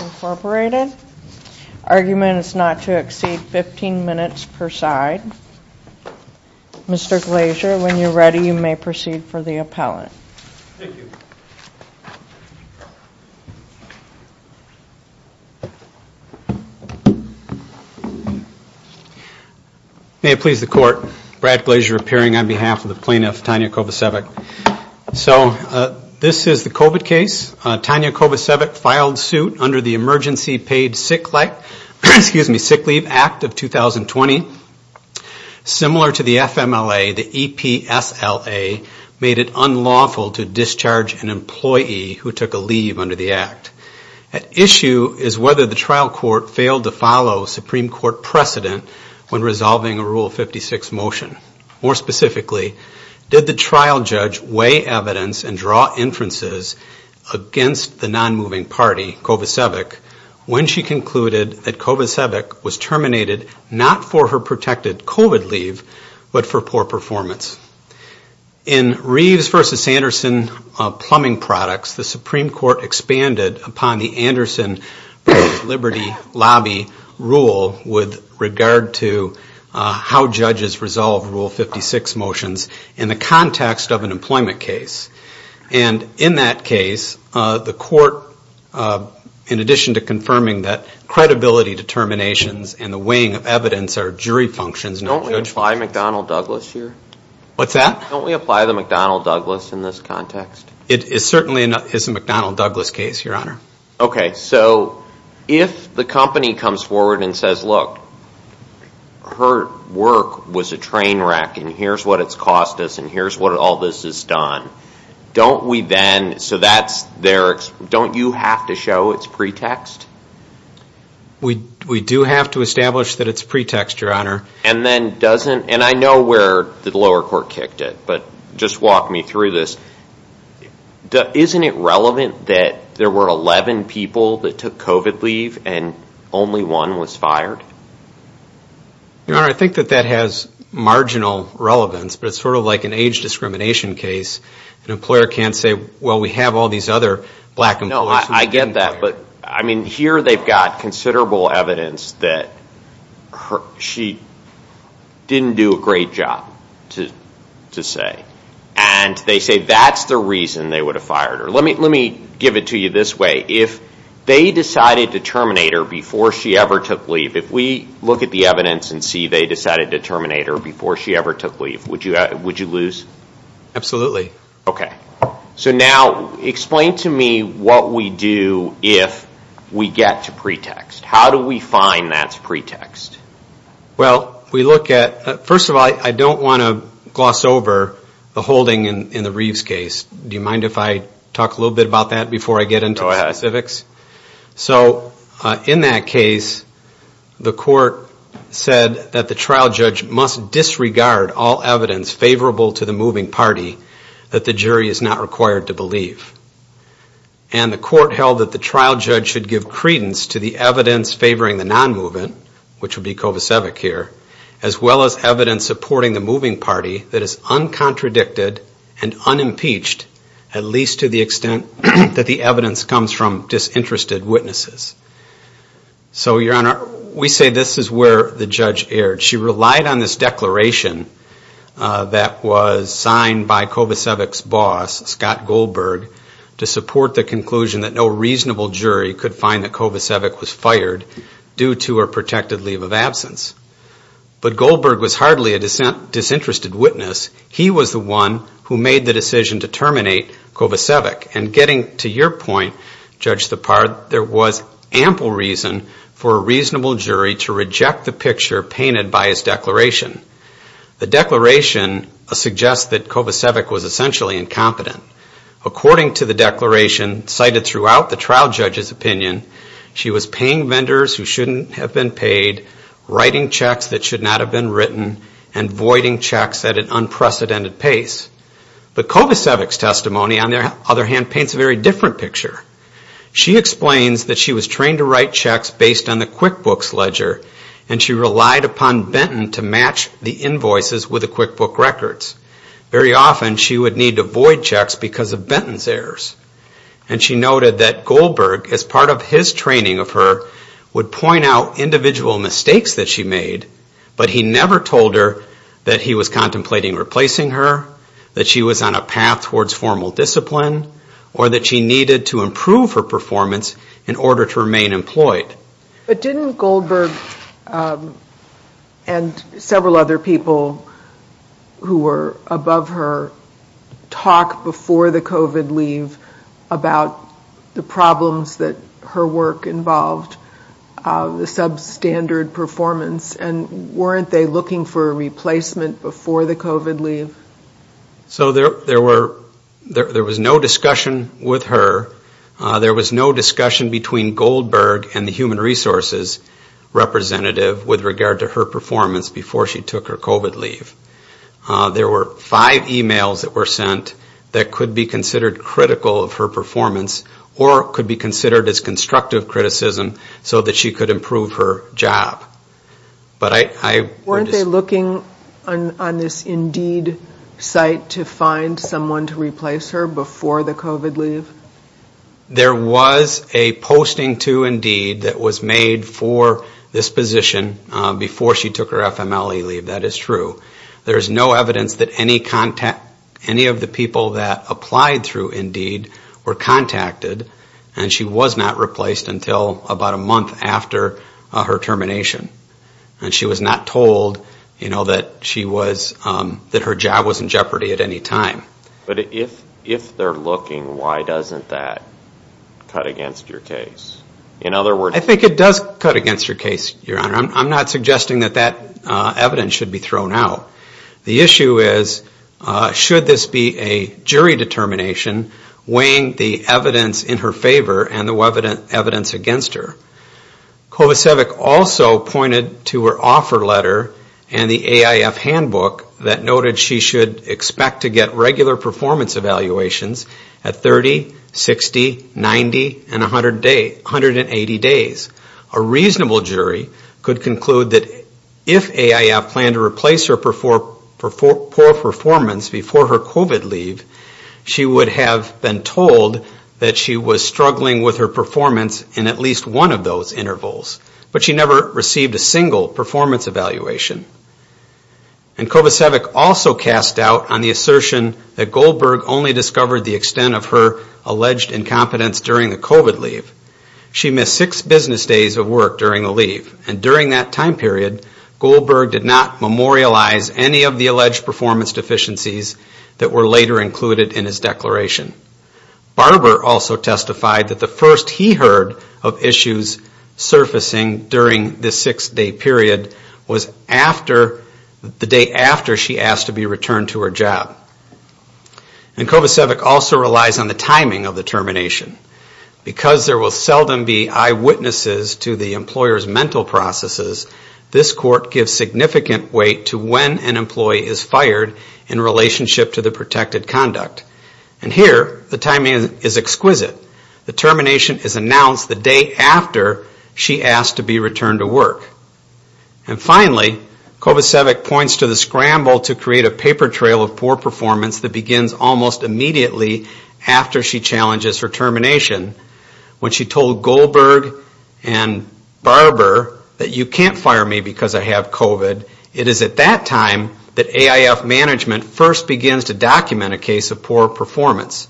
Incorporated. Argument is not to exceed 15 minutes per side. Mr. Glazer, when you're ready, you may proceed for the appellant. Thank you. May it please the court, Brad Glazer appearing on behalf of the plaintiff, Tanja Kovacevic. So this is the COVID case. Tanja Kovacevic filed suit under the Emergency Paid Sick Leave Act of 2020. Similar to the FMLA, the EPSLA made it unlawful to discharge an employee who took a leave under the act. At issue is whether the trial court failed to follow Supreme Court precedent when resolving a Rule 56 motion. More specifically, did the trial judge weigh evidence and draw inferences against the non-moving party, Kovacevic, when she concluded that Kovacevic was terminated not for her protected COVID leave, but for poor performance. In Reeves v. Anderson plumbing products, the Supreme Court expanded upon the Anderson Liberty Lobby rule with regard to how judges resolve Rule 56 motions in the context of an employment case. And in that case, the court, in addition to confirming that credibility determinations and the weighing of evidence are jury functions, not judge functions. If the company comes forward and says, look, her work was a train wreck and here's what it's cost us and here's what all this has done, don't you have to show it's pretext? We do have to establish that it's pretext, Your Honor. And then doesn't, and I know where the lower court kicked it, but just walk me through this. Isn't it relevant that there were 11 people that took COVID leave and only one was fired? Your Honor, I think that that has marginal relevance, but it's sort of like an age discrimination case. An employer can't say, well, we have all these other black employees. No, I get that. But I mean, here they've got considerable evidence that she didn't do a great job, to say. And they say that's the reason they would have fired her. Let me give it to you this way. If they decided to terminate her before she ever took leave, if we look at the evidence and see they decided to terminate her before she ever took leave, would you lose? Absolutely. Okay. So now explain to me what we do if we get to pretext. How do we find that's pretext? Well, we look at, first of all, I don't want to gloss over the holding in the Reeves case. Do you mind if I talk a little bit about that before I get into specifics? Go ahead. So in that case, the court said that the trial judge must disregard all evidence favorable to the moving party that the jury is not required to believe. And the court held that the trial judge should give credence to the evidence favoring the non-moving, which would be Kovacevic here, as well as evidence supporting the moving party that is uncontradicted and unimpeached, at least to the extent that the evidence comes from disinterested witnesses. So, Your Honor, we say this is where the judge erred. She relied on this declaration that was signed by Kovacevic's boss, Scott Goldberg, to support the conclusion that no reasonable jury could find that Kovacevic was fired due to her protected leave of absence. But Goldberg was hardly a disinterested witness. He was the one who made the decision to terminate Kovacevic. And getting to your point, Judge Thapar, there was ample reason for a reasonable jury to reject the picture painted by his declaration. The declaration suggests that Kovacevic was essentially incompetent. According to the declaration, cited throughout the trial judge's opinion, she was paying vendors who shouldn't have been paid, writing checks that should not have been written, and voiding checks at an unprecedented pace. But Kovacevic's testimony, on the other hand, paints a very different picture. She explains that she was trained to write checks based on the QuickBooks ledger, and she relied upon Benton to match the invoices with the QuickBooks records. Very often, she would need to void checks because of Benton's errors. And she noted that Goldberg, as part of his training of her, would point out individual mistakes that she made, but he never told her that he was contemplating replacing her, that she was on a path towards formal discipline, or that she needed to improve her performance in order to remain employed. But didn't Goldberg and several other people who were above her talk before the COVID leave about the problems that her work involved, the substandard performance, and weren't they looking for a replacement before the COVID leave? So there was no discussion with her. There was no discussion between Goldberg and the Human Resources representative with regard to her performance before she took her COVID leave. There were five emails that were sent that could be considered critical of her performance or could be considered as constructive criticism so that she could improve her job. Weren't they looking on this Indeed site to find someone to replace her before the COVID leave? There was a posting to Indeed that was made for this position before she took her FMLE leave, that is true. There is no evidence that any of the people that applied through Indeed were contacted, and she was not replaced until about a month after her termination. And she was not told that her job was in jeopardy at any time. But if they're looking, why doesn't that cut against your case? I think it does cut against your case, Your Honor. I'm not suggesting that that evidence should be thrown out. The issue is, should this be a jury determination weighing the evidence in her favor and the evidence against her? Kovacevic also pointed to her offer letter and the AIF handbook that noted she should expect to get regular performance evaluations at 30, 60, 90, and 180 days. A reasonable jury could conclude that if AIF planned to replace her for poor performance before her COVID leave, she would have been told that she was struggling with her performance in at least one of those intervals. But she never received a single performance evaluation. And Kovacevic also cast doubt on the assertion that Goldberg only discovered the extent of her alleged incompetence during the COVID leave. She missed six business days of work during the leave. And during that time period, Goldberg did not memorialize any of the alleged performance deficiencies that were later included in his declaration. Barber also testified that the first he heard of issues surfacing during this six-day period was the day after she asked to be returned to her job. And Kovacevic also relies on the timing of the termination. Because there will seldom be eyewitnesses to the employer's mental processes, this court gives significant weight to when an employee is fired in relationship to the protected conduct. And here, the timing is exquisite. The termination is announced the day after she asked to be returned to work. And finally, Kovacevic points to the scramble to create a paper trail of poor performance that begins almost immediately after she challenges her termination. When she told Goldberg and Barber that you can't fire me because I have COVID, it is at that time that AIF management first begins to document a case of poor performance.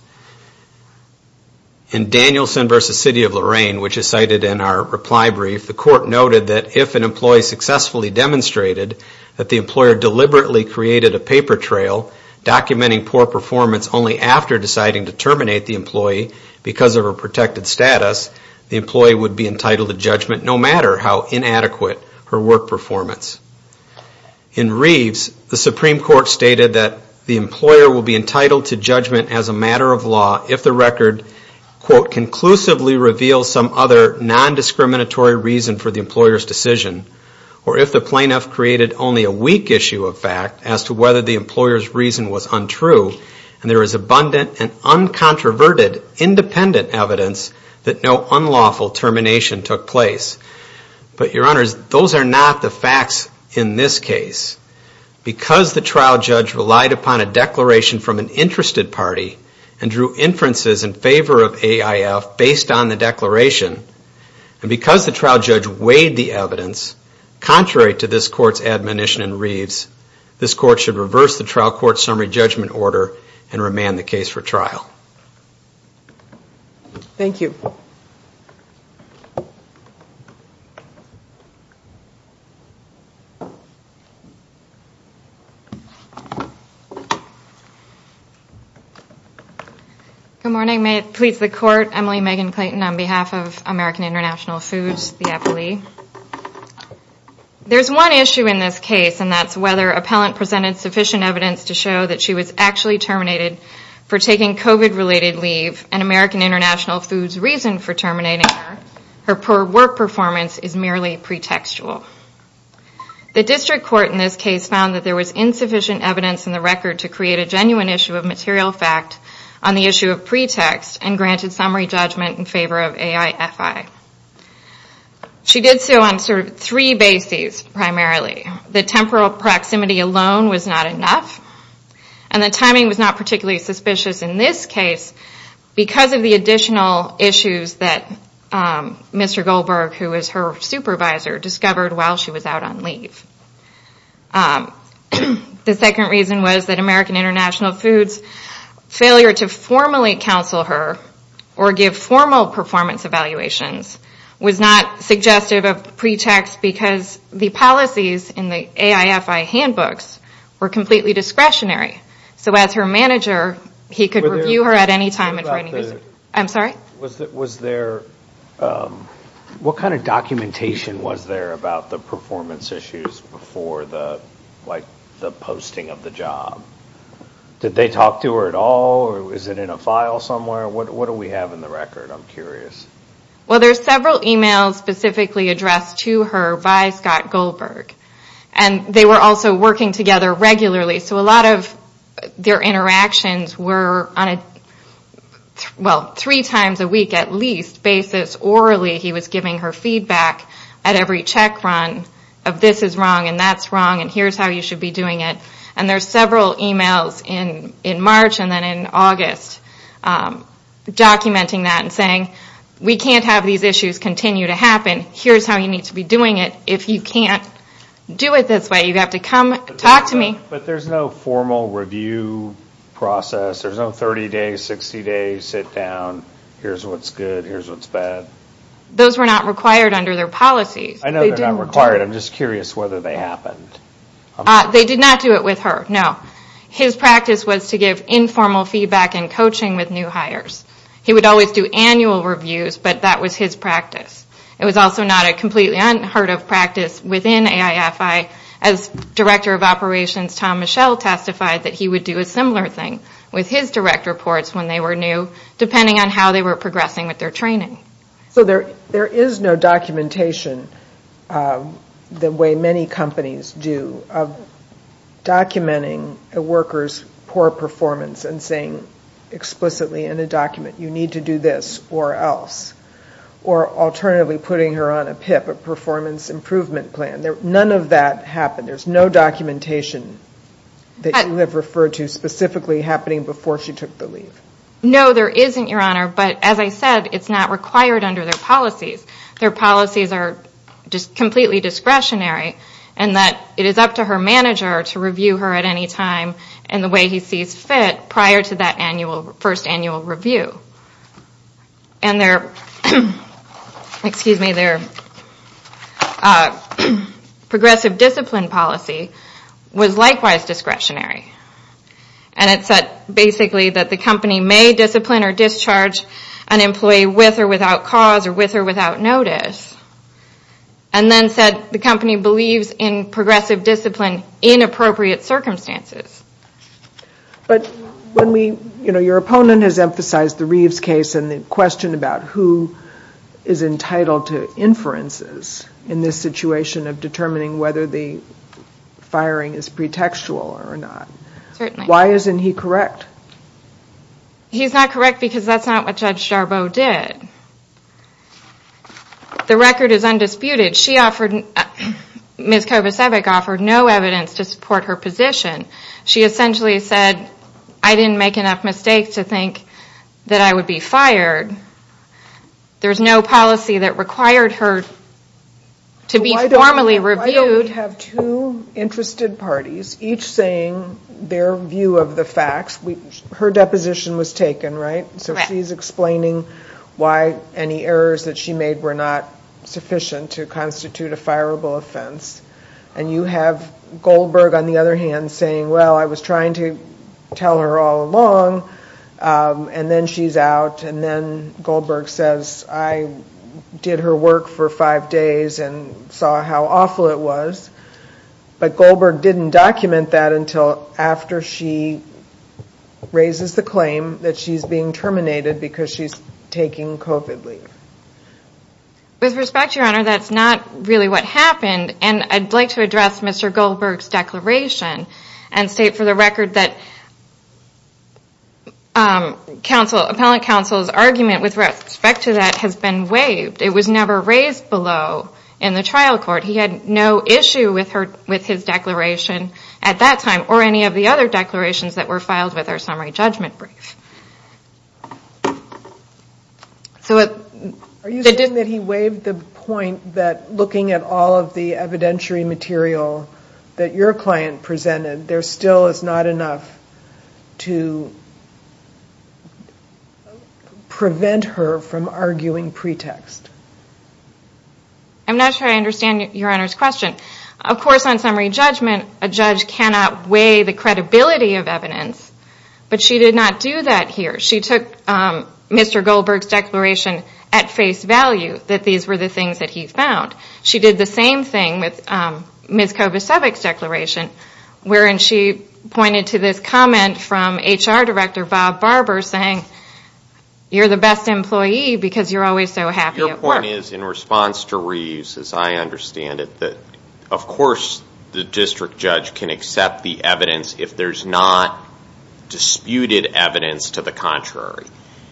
In Danielson v. City of Lorain, which is cited in our reply brief, the court noted that if an employee successfully demonstrated that the employer deliberately created a paper trail documenting poor performance only after deciding to terminate the employee because of her protected status, the employee would be entitled to judgment no matter how inadequate her work performance. In Reeves, the Supreme Court stated that the employer will be entitled to judgment as a matter of law if the record, quote, conclusively reveals some other nondiscriminatory reason for the employer's decision, or if the plaintiff created only a weak issue of fact as to whether the employer's reason was untrue, and there is abundant and uncontroverted independent evidence that no unlawful termination took place. But, Your Honors, those are not the facts in this case. Because the trial judge relied upon a declaration from an interested party and drew inferences in favor of AIF based on the declaration, and because the trial judge weighed the evidence, contrary to this court's admonition in Reeves, this court should reverse the trial court's summary judgment order and remand the case for trial. Thank you. Good morning. May it please the Court, Emily Megan Clayton on behalf of American International Foods, the FLE. There's one issue in this case, and that's whether appellant presented sufficient evidence to show that she was actually terminated for taking COVID-related leave, and American International Foods' reason for terminating her per work performance is merely pretextual. The district court in this case found that there was insufficient evidence in the record to create a genuine issue of material fact on the issue of pretext and granted summary judgment in favor of AIFI. She did so on three bases, primarily. The temporal proximity alone was not enough, and the timing was not particularly suspicious in this case because of the additional issues that Mr. Goldberg, who was her supervisor, discovered while she was out on leave. The second reason was that American International Foods' failure to formally counsel her or give formal performance evaluations was not suggestive of pretext because the policies in the AIFI handbooks were completely discretionary. So as her manager, he could review her at any time and for any reason. I'm sorry? What kind of documentation was there about the performance issues before the posting of the job? Did they talk to her at all, or was it in a file somewhere? What do we have in the record? I'm curious. Well, there's several emails specifically addressed to her by Scott Goldberg, and they were also working together regularly. So a lot of their interactions were on a three times a week, at least, basis. Orally, he was giving her feedback at every check run of this is wrong and that's wrong, and here's how you should be doing it. And there's several emails in March and then in August documenting that and saying we can't have these issues continue to happen. Here's how you need to be doing it. If you can't do it this way, you have to come talk to me. But there's no formal review process. There's no 30 days, 60 days, sit down, here's what's good, here's what's bad. Those were not required under their policies. I know they're not required. I'm just curious whether they happened. They did not do it with her, no. His practice was to give informal feedback and coaching with new hires. He would always do annual reviews, but that was his practice. It was also not a completely unheard of practice within AIFI. As Director of Operations, Tom Michel, testified that he would do a similar thing with his direct reports when they were new, depending on how they were progressing with their training. So there is no documentation the way many companies do of documenting a worker's poor performance and saying explicitly in a document you need to do this or else, or alternatively putting her on a PIP, a performance improvement plan. None of that happened. There's no documentation that you have referred to specifically happening before she took the leave. No, there isn't, Your Honor. But as I said, it's not required under their policies. Their policies are just completely discretionary in that it is up to her manager to review her at any time in the way he sees fit prior to that first annual review. Their progressive discipline policy was likewise discretionary. And it said basically that the company may discipline or discharge an employee with or without cause or with or without notice. And then said the company believes in progressive discipline in appropriate circumstances. But when we, you know, your opponent has emphasized the Reeves case and the question about who is entitled to inferences in this situation of determining whether the firing is pretextual or not. Why isn't he correct? He's not correct because that's not what Judge Jarboe did. The record is undisputed. Ms. Kovacevic offered no evidence to support her position. She essentially said, I didn't make enough mistakes to think that I would be fired. There's no policy that required her to be formally reviewed. Why don't we have two interested parties each saying their view of the facts. Her deposition was taken, right? So she's explaining why any errors that she made were not sufficient to constitute a fireable offense. And you have Goldberg on the other hand saying, well, I was trying to tell her all along. And then she's out and then Goldberg says, I did her work for five days and saw how awful it was. But Goldberg didn't document that until after she raises the claim that she's being terminated because she's taking COVID leave. With respect, Your Honor, that's not really what happened. And I'd like to address Mr. Goldberg's declaration and state for the record that appellant counsel's argument with respect to that has been waived. It was never raised below in the trial court. He had no issue with his declaration at that time or any of the other declarations that were filed with our summary judgment brief. Are you saying that he waived the point that looking at all of the evidentiary material that your client presented, there still is not enough to prevent her from arguing pretext? I'm not sure I understand Your Honor's question. Of course, on summary judgment, a judge cannot weigh the credibility of evidence, but she did not do that here. She took Mr. Goldberg's declaration at face value that these were the things that he found. She did the same thing with Ms. Kovacevic's declaration wherein she pointed to this comment from HR Director Bob Barber saying, you're the best employee because you're always so happy at work. Your point is in response to Reeves, as I understand it, that of course the district judge can accept the evidence if there's not disputed evidence to the contrary.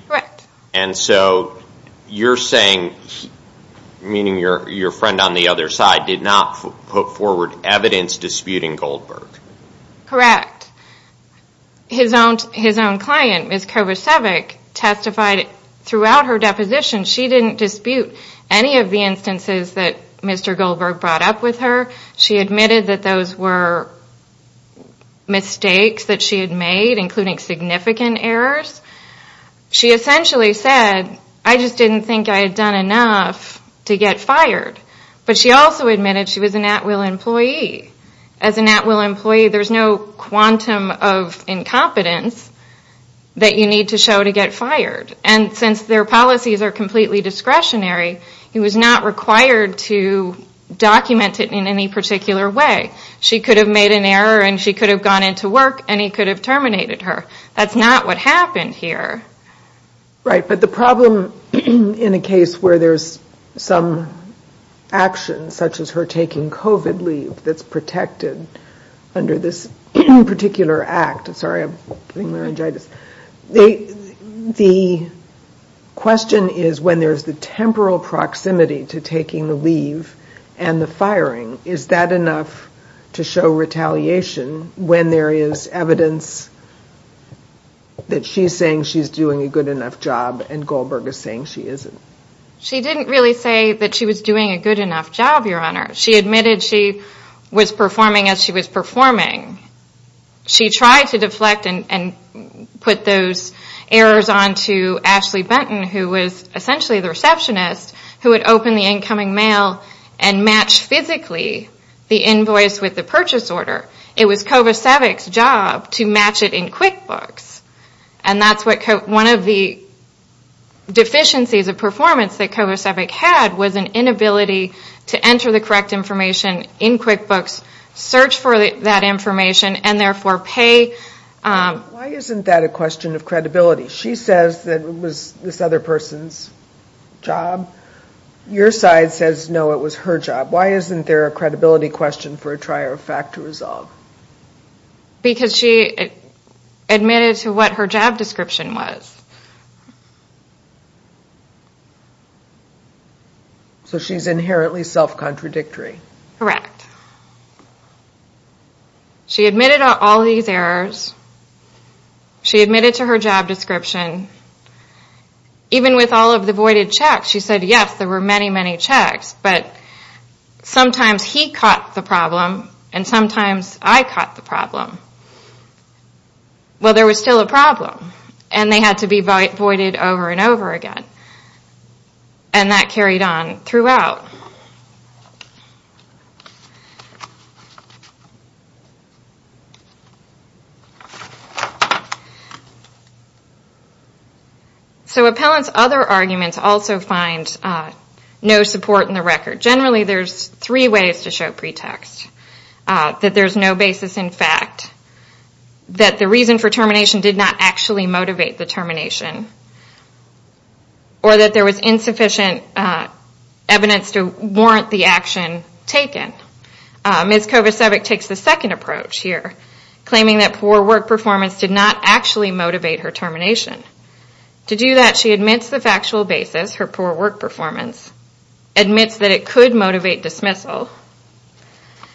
Correct. And so you're saying, meaning your friend on the other side, did not put forward evidence disputing Goldberg? Correct. His own client, Ms. Kovacevic, testified throughout her deposition. She didn't dispute any of the instances that Mr. Goldberg brought up with her. She admitted that those were mistakes that she had made, including significant errors. She essentially said, I just didn't think I had done enough to get fired. But she also admitted she was an at-will employee. As an at-will employee, there's no quantum of incompetence that you need to show to get fired. And since their policies are completely discretionary, he was not required to document it in any particular way. She could have made an error and she could have gone into work and he could have terminated her. That's not what happened here. Right, but the problem in a case where there's some action, such as her taking COVID leave that's protected under this particular act. Sorry, I'm getting laryngitis. The question is, when there's the temporal proximity to taking the leave and the firing, is that enough to show retaliation when there is evidence that she's saying she's doing a good enough job and Goldberg is saying she isn't? She didn't really say that she was doing a good enough job, Your Honor. She admitted she was performing as she was performing. She tried to deflect and put those errors on to Ashley Benton, who was essentially the receptionist, who would open the incoming mail and match physically the invoice with the purchase order. It was Kovacevic's job to match it in QuickBooks. And that's one of the deficiencies of performance that Kovacevic had, was an inability to enter the correct information in QuickBooks, search for that information, and therefore pay. Why isn't that a question of credibility? She says that it was this other person's job. Your side says, no, it was her job. Why isn't there a credibility question for a trier of fact to resolve? Because she admitted to what her job description was. So she's inherently self-contradictory. Correct. She admitted to all these errors. She admitted to her job description. Even with all of the voided checks, she said, yes, there were many, many checks, but sometimes he caught the problem, and sometimes I caught the problem. Well, there was still a problem, and they had to be voided over and over again. And that carried on throughout. So appellant's other arguments also find no support in the record. Generally, there's three ways to show pretext. That there's no basis in fact. That the reason for termination did not actually motivate the termination, or that there was insufficient evidence to warrant the action taken. Ms. Kovacevic takes the second approach here, claiming that poor work performance did not actually motivate her termination. To do that, she admits the factual basis, her poor work performance, admits that it could motivate dismissal.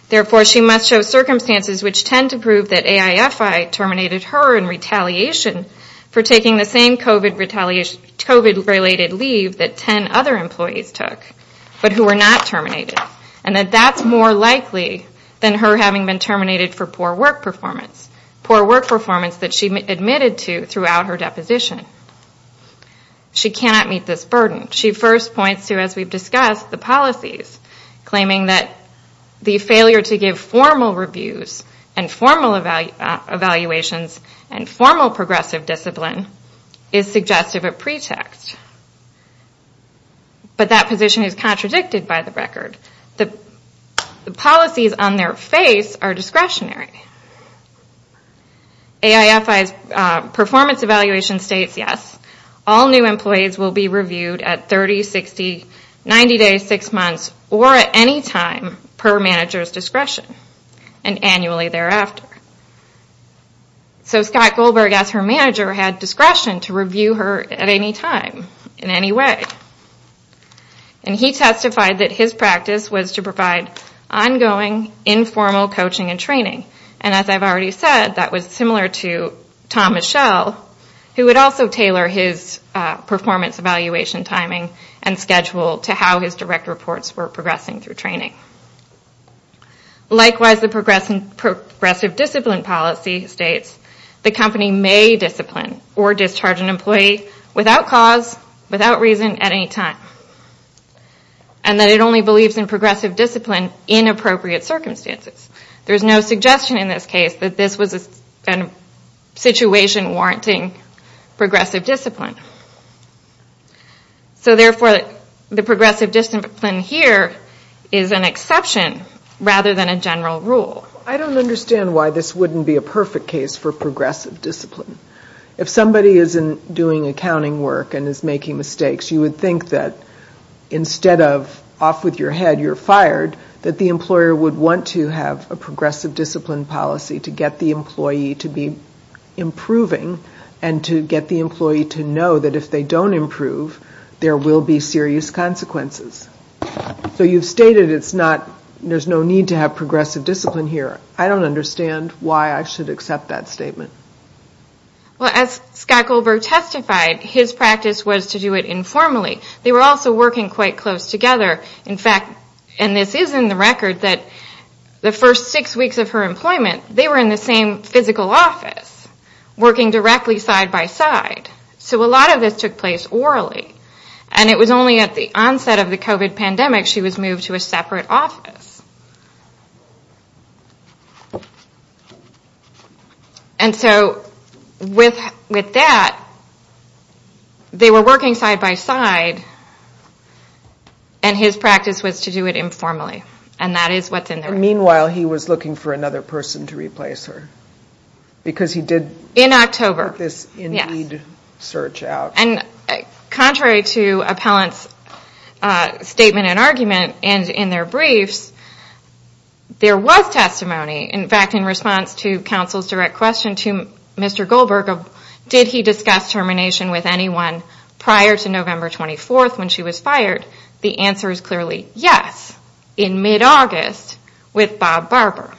Therefore, she must show circumstances which tend to prove that AIFI terminated her in retaliation for taking the same COVID-related leave that 10 other employees took, but who were not terminated. And that that's more likely than her having been terminated for poor work performance, poor work performance that she admitted to throughout her deposition. She cannot meet this burden. She first points to, as we've discussed, the policies, claiming that the failure to give formal reviews and formal evaluations and formal progressive discipline is suggestive of pretext. But that position is contradicted by the record. The policies on their face are discretionary. AIFI's performance evaluation states, yes, all new employees will be reviewed at 30, 60, 90 days, 6 months, or at any time per manager's discretion, and annually thereafter. So Scott Goldberg, as her manager, had discretion to review her at any time, in any way. And he testified that his practice was to provide ongoing, informal coaching and training. And as I've already said, that was similar to Tom Michel, who would also tailor his performance evaluation timing and schedule to how his direct reports were progressing through training. Likewise, the progressive discipline policy states the company may discipline or discharge an employee without cause, without reason, at any time. And that it only believes in progressive discipline in appropriate circumstances. There's no suggestion in this case that this was a situation warranting progressive discipline. So therefore, the progressive discipline here is an exception, rather than a general rule. I don't understand why this wouldn't be a perfect case for progressive discipline. If somebody is doing accounting work and is making mistakes, you would think that instead of off with your head, you're fired, that the employer would want to have a progressive discipline policy to get the employee to be improving, and to get the employee to know that if they don't improve, there will be serious consequences. So you've stated there's no need to have progressive discipline here. I don't understand why I should accept that statement. Well, as Scott Goldberg testified, his practice was to do it informally. They were also working quite close together. In fact, and this is in the record, that the first six weeks of her employment, they were in the same physical office, working directly side by side. So a lot of this took place orally. And it was only at the onset of the COVID pandemic she was moved to a separate office. And so with that, they were working side by side, and his practice was to do it informally. And that is what's in the record. And meanwhile, he was looking for another person to replace her, because he did this Indeed search out. In October, yes. And contrary to appellants' statement and argument in their briefs, there was testimony. In fact, in response to counsel's direct question to Mr. Goldberg, did he discuss termination with anyone prior to November 24th when she was fired? The answer is clearly yes, in mid-August with Bob Barber.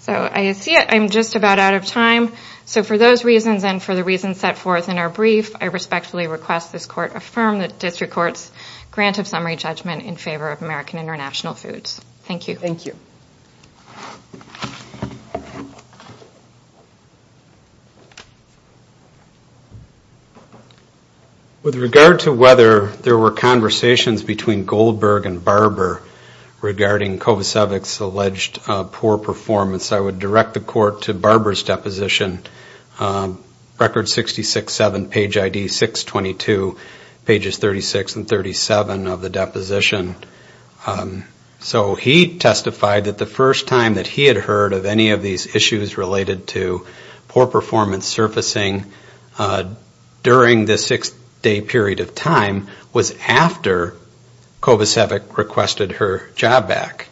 So I see I'm just about out of time. So for those reasons and for the reasons set forth in our brief, I respectfully request this court affirm the district court's grant of summary judgment in favor of American International Foods. Thank you. Thank you. With regard to whether there were conversations between Goldberg and Barber regarding Kovacevic's alleged poor performance, I would direct the court to Barber's deposition, record 66-7, page ID 622, pages 36 and 37 of the deposition. So he testified that the first time that he had heard of any of these issues related to poor performance surfacing during this six-day period of time was after Kovacevic requested her job back.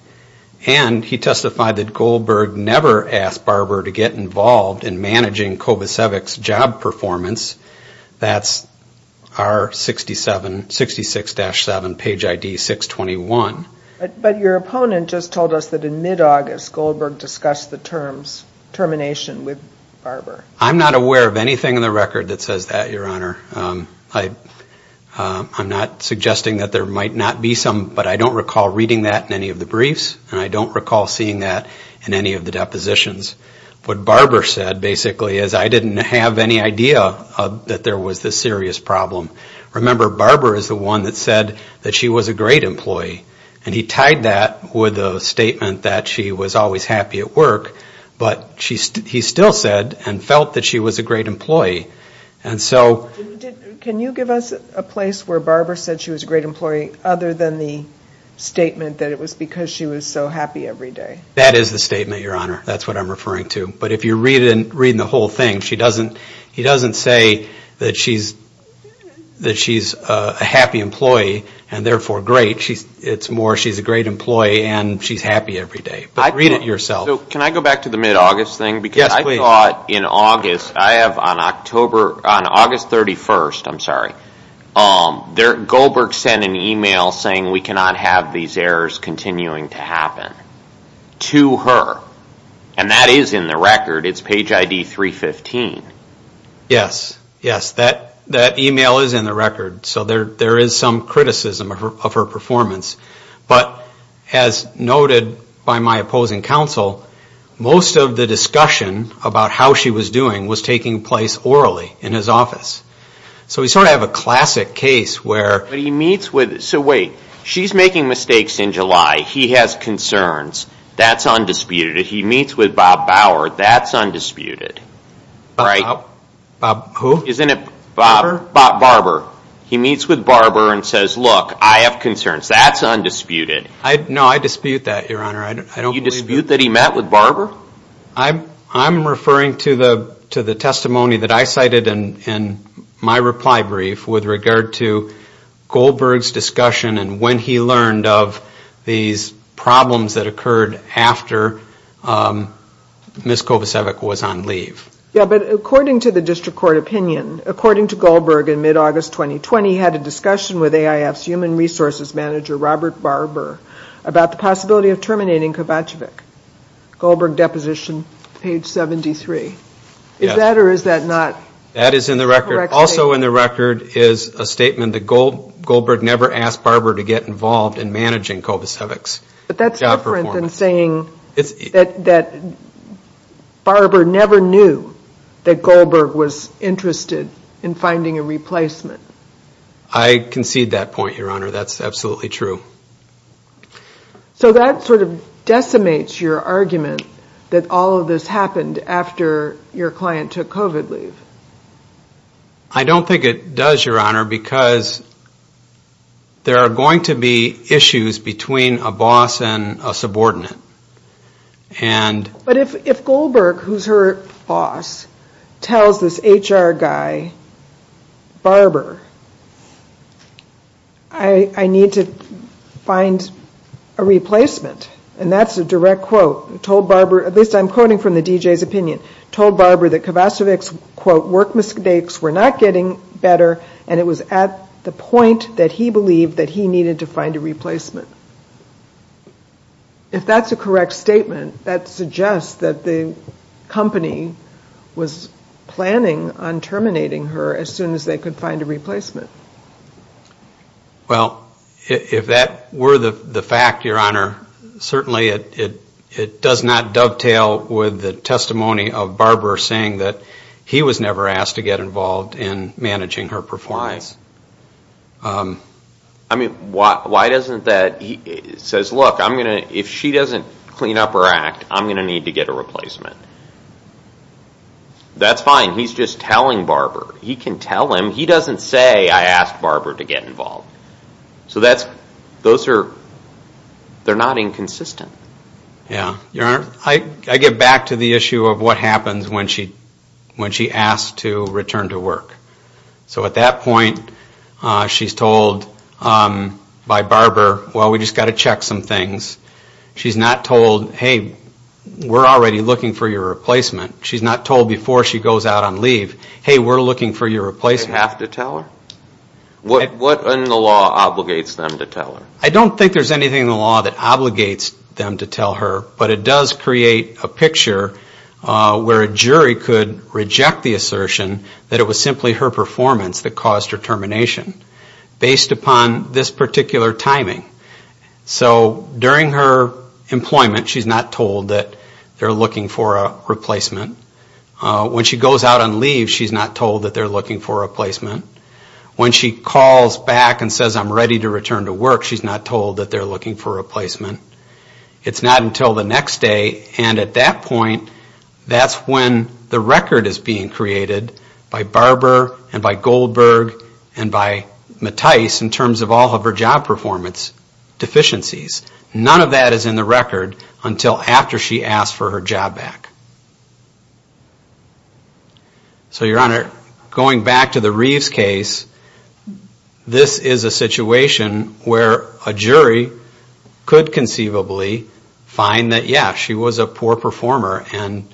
And he testified that Goldberg never asked Barber to get involved in managing Kovacevic's job performance. That's our 66-7, page ID 621. But your opponent just told us that in mid-August, Goldberg discussed the termination with Barber. I'm not aware of anything in the record that says that, Your Honor. I'm not suggesting that there might not be some, but I don't recall reading that in any of the briefs, and I don't recall seeing that in any of the depositions. What Barber said, basically, is I didn't have any idea that there was this serious problem. Remember, Barber is the one that said that she was a great employee, and he tied that with a statement that she was always happy at work, but he still said and felt that she was a great employee. Can you give us a place where Barber said she was a great employee, other than the statement that it was because she was so happy every day? That is the statement, Your Honor. That's what I'm referring to. But if you're reading the whole thing, he doesn't say that she's a happy employee and therefore great. It's more she's a great employee and she's happy every day. But read it yourself. Can I go back to the mid-August thing? Yes, please. I thought in August, I have on August 31st, I'm sorry, Goldberg sent an email saying we cannot have these errors continuing to happen to her, and that is in the record. It's page ID 315. Yes, yes. That email is in the record, so there is some criticism of her performance. But as noted by my opposing counsel, most of the discussion about how she was doing was taking place orally in his office. So we sort of have a classic case where he meets with, so wait, she's making mistakes in July. He has concerns. That's undisputed. If he meets with Bob Bauer, that's undisputed. Bob who? Isn't it Barber? He meets with Barber and says, look, I have concerns. That's undisputed. No, I dispute that, Your Honor. You dispute that he met with Barber? I'm referring to the testimony that I cited in my reply brief with regard to Goldberg's discussion and when he learned of these problems that occurred after Ms. Kovacevic was on leave. Yes, but according to the district court opinion, according to Goldberg in mid-August 2020, he had a discussion with AIF's human resources manager, Robert Barber, about the possibility of terminating Kovacevic. Goldberg deposition, page 73. Is that or is that not correct? That is in the record. Also in the record is a statement that Goldberg never asked Barber to get involved in managing Kovacevic's job performance. But that's different than saying that Barber never knew that Goldberg was interested in finding a replacement. I concede that point, Your Honor. That's absolutely true. So that sort of decimates your argument that all of this happened after your client took COVID leave. I don't think it does, Your Honor, because there are going to be issues between a boss and a subordinate. But if Goldberg, who's her boss, tells this HR guy, Barber, I need to find a replacement, and that's a direct quote. He told Barber, at least I'm quoting from the DJ's opinion, told Barber that Kovacevic's, quote, work mistakes were not getting better, and it was at the point that he believed that he needed to find a replacement. If that's a correct statement, that suggests that the company was planning on terminating her as soon as they could find a replacement. Well, if that were the fact, Your Honor, certainly it does not dovetail with the testimony of Barber saying that he was never asked to get involved in managing her performance. I mean, why doesn't that, he says, look, I'm going to, if she doesn't clean up her act, I'm going to need to get a replacement. That's fine, he's just telling Barber. He can tell him, he doesn't say, I asked Barber to get involved. So that's, those are, they're not inconsistent. Yeah, Your Honor, I get back to the issue of what happens when she asks to return to work. So at that point, she's told by Barber, well, we just got to check some things. She's not told, hey, we're already looking for your replacement. She's not told before she goes out on leave, hey, we're looking for your replacement. They have to tell her? What in the law obligates them to tell her? I don't think there's anything in the law that obligates them to tell her, but it does create a picture where a jury could reject the assertion that it was simply her performance that caused her termination, based upon this particular timing. So during her employment, she's not told that they're looking for a replacement. When she goes out on leave, she's not told that they're looking for a replacement. When she calls back and says, I'm ready to return to work, she's not told that they're looking for a replacement. It's not until the next day, and at that point, that's when the record is being created by Barber and by Goldberg and by Mattice in terms of all of her job performance deficiencies. None of that is in the record until after she asks for her job back. So, Your Honor, going back to the Reeves case, this is a situation where a jury could conceivably find that, yeah, she was a poor performer and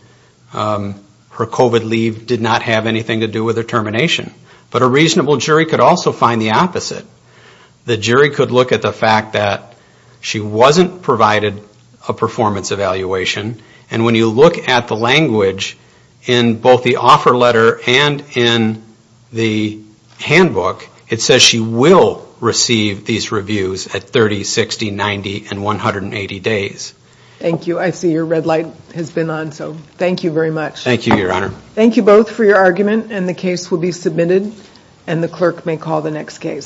her COVID leave did not have anything to do with her termination. But a reasonable jury could also find the opposite. The jury could look at the fact that she wasn't provided a performance evaluation, and when you look at the language in both the offer letter and in the handbook, it says she will receive these reviews at 30, 60, 90, and 180 days. Thank you. I see your red light has been on, so thank you very much. Thank you, Your Honor. Thank you both for your argument, and the case will be submitted, and the clerk may call the next case.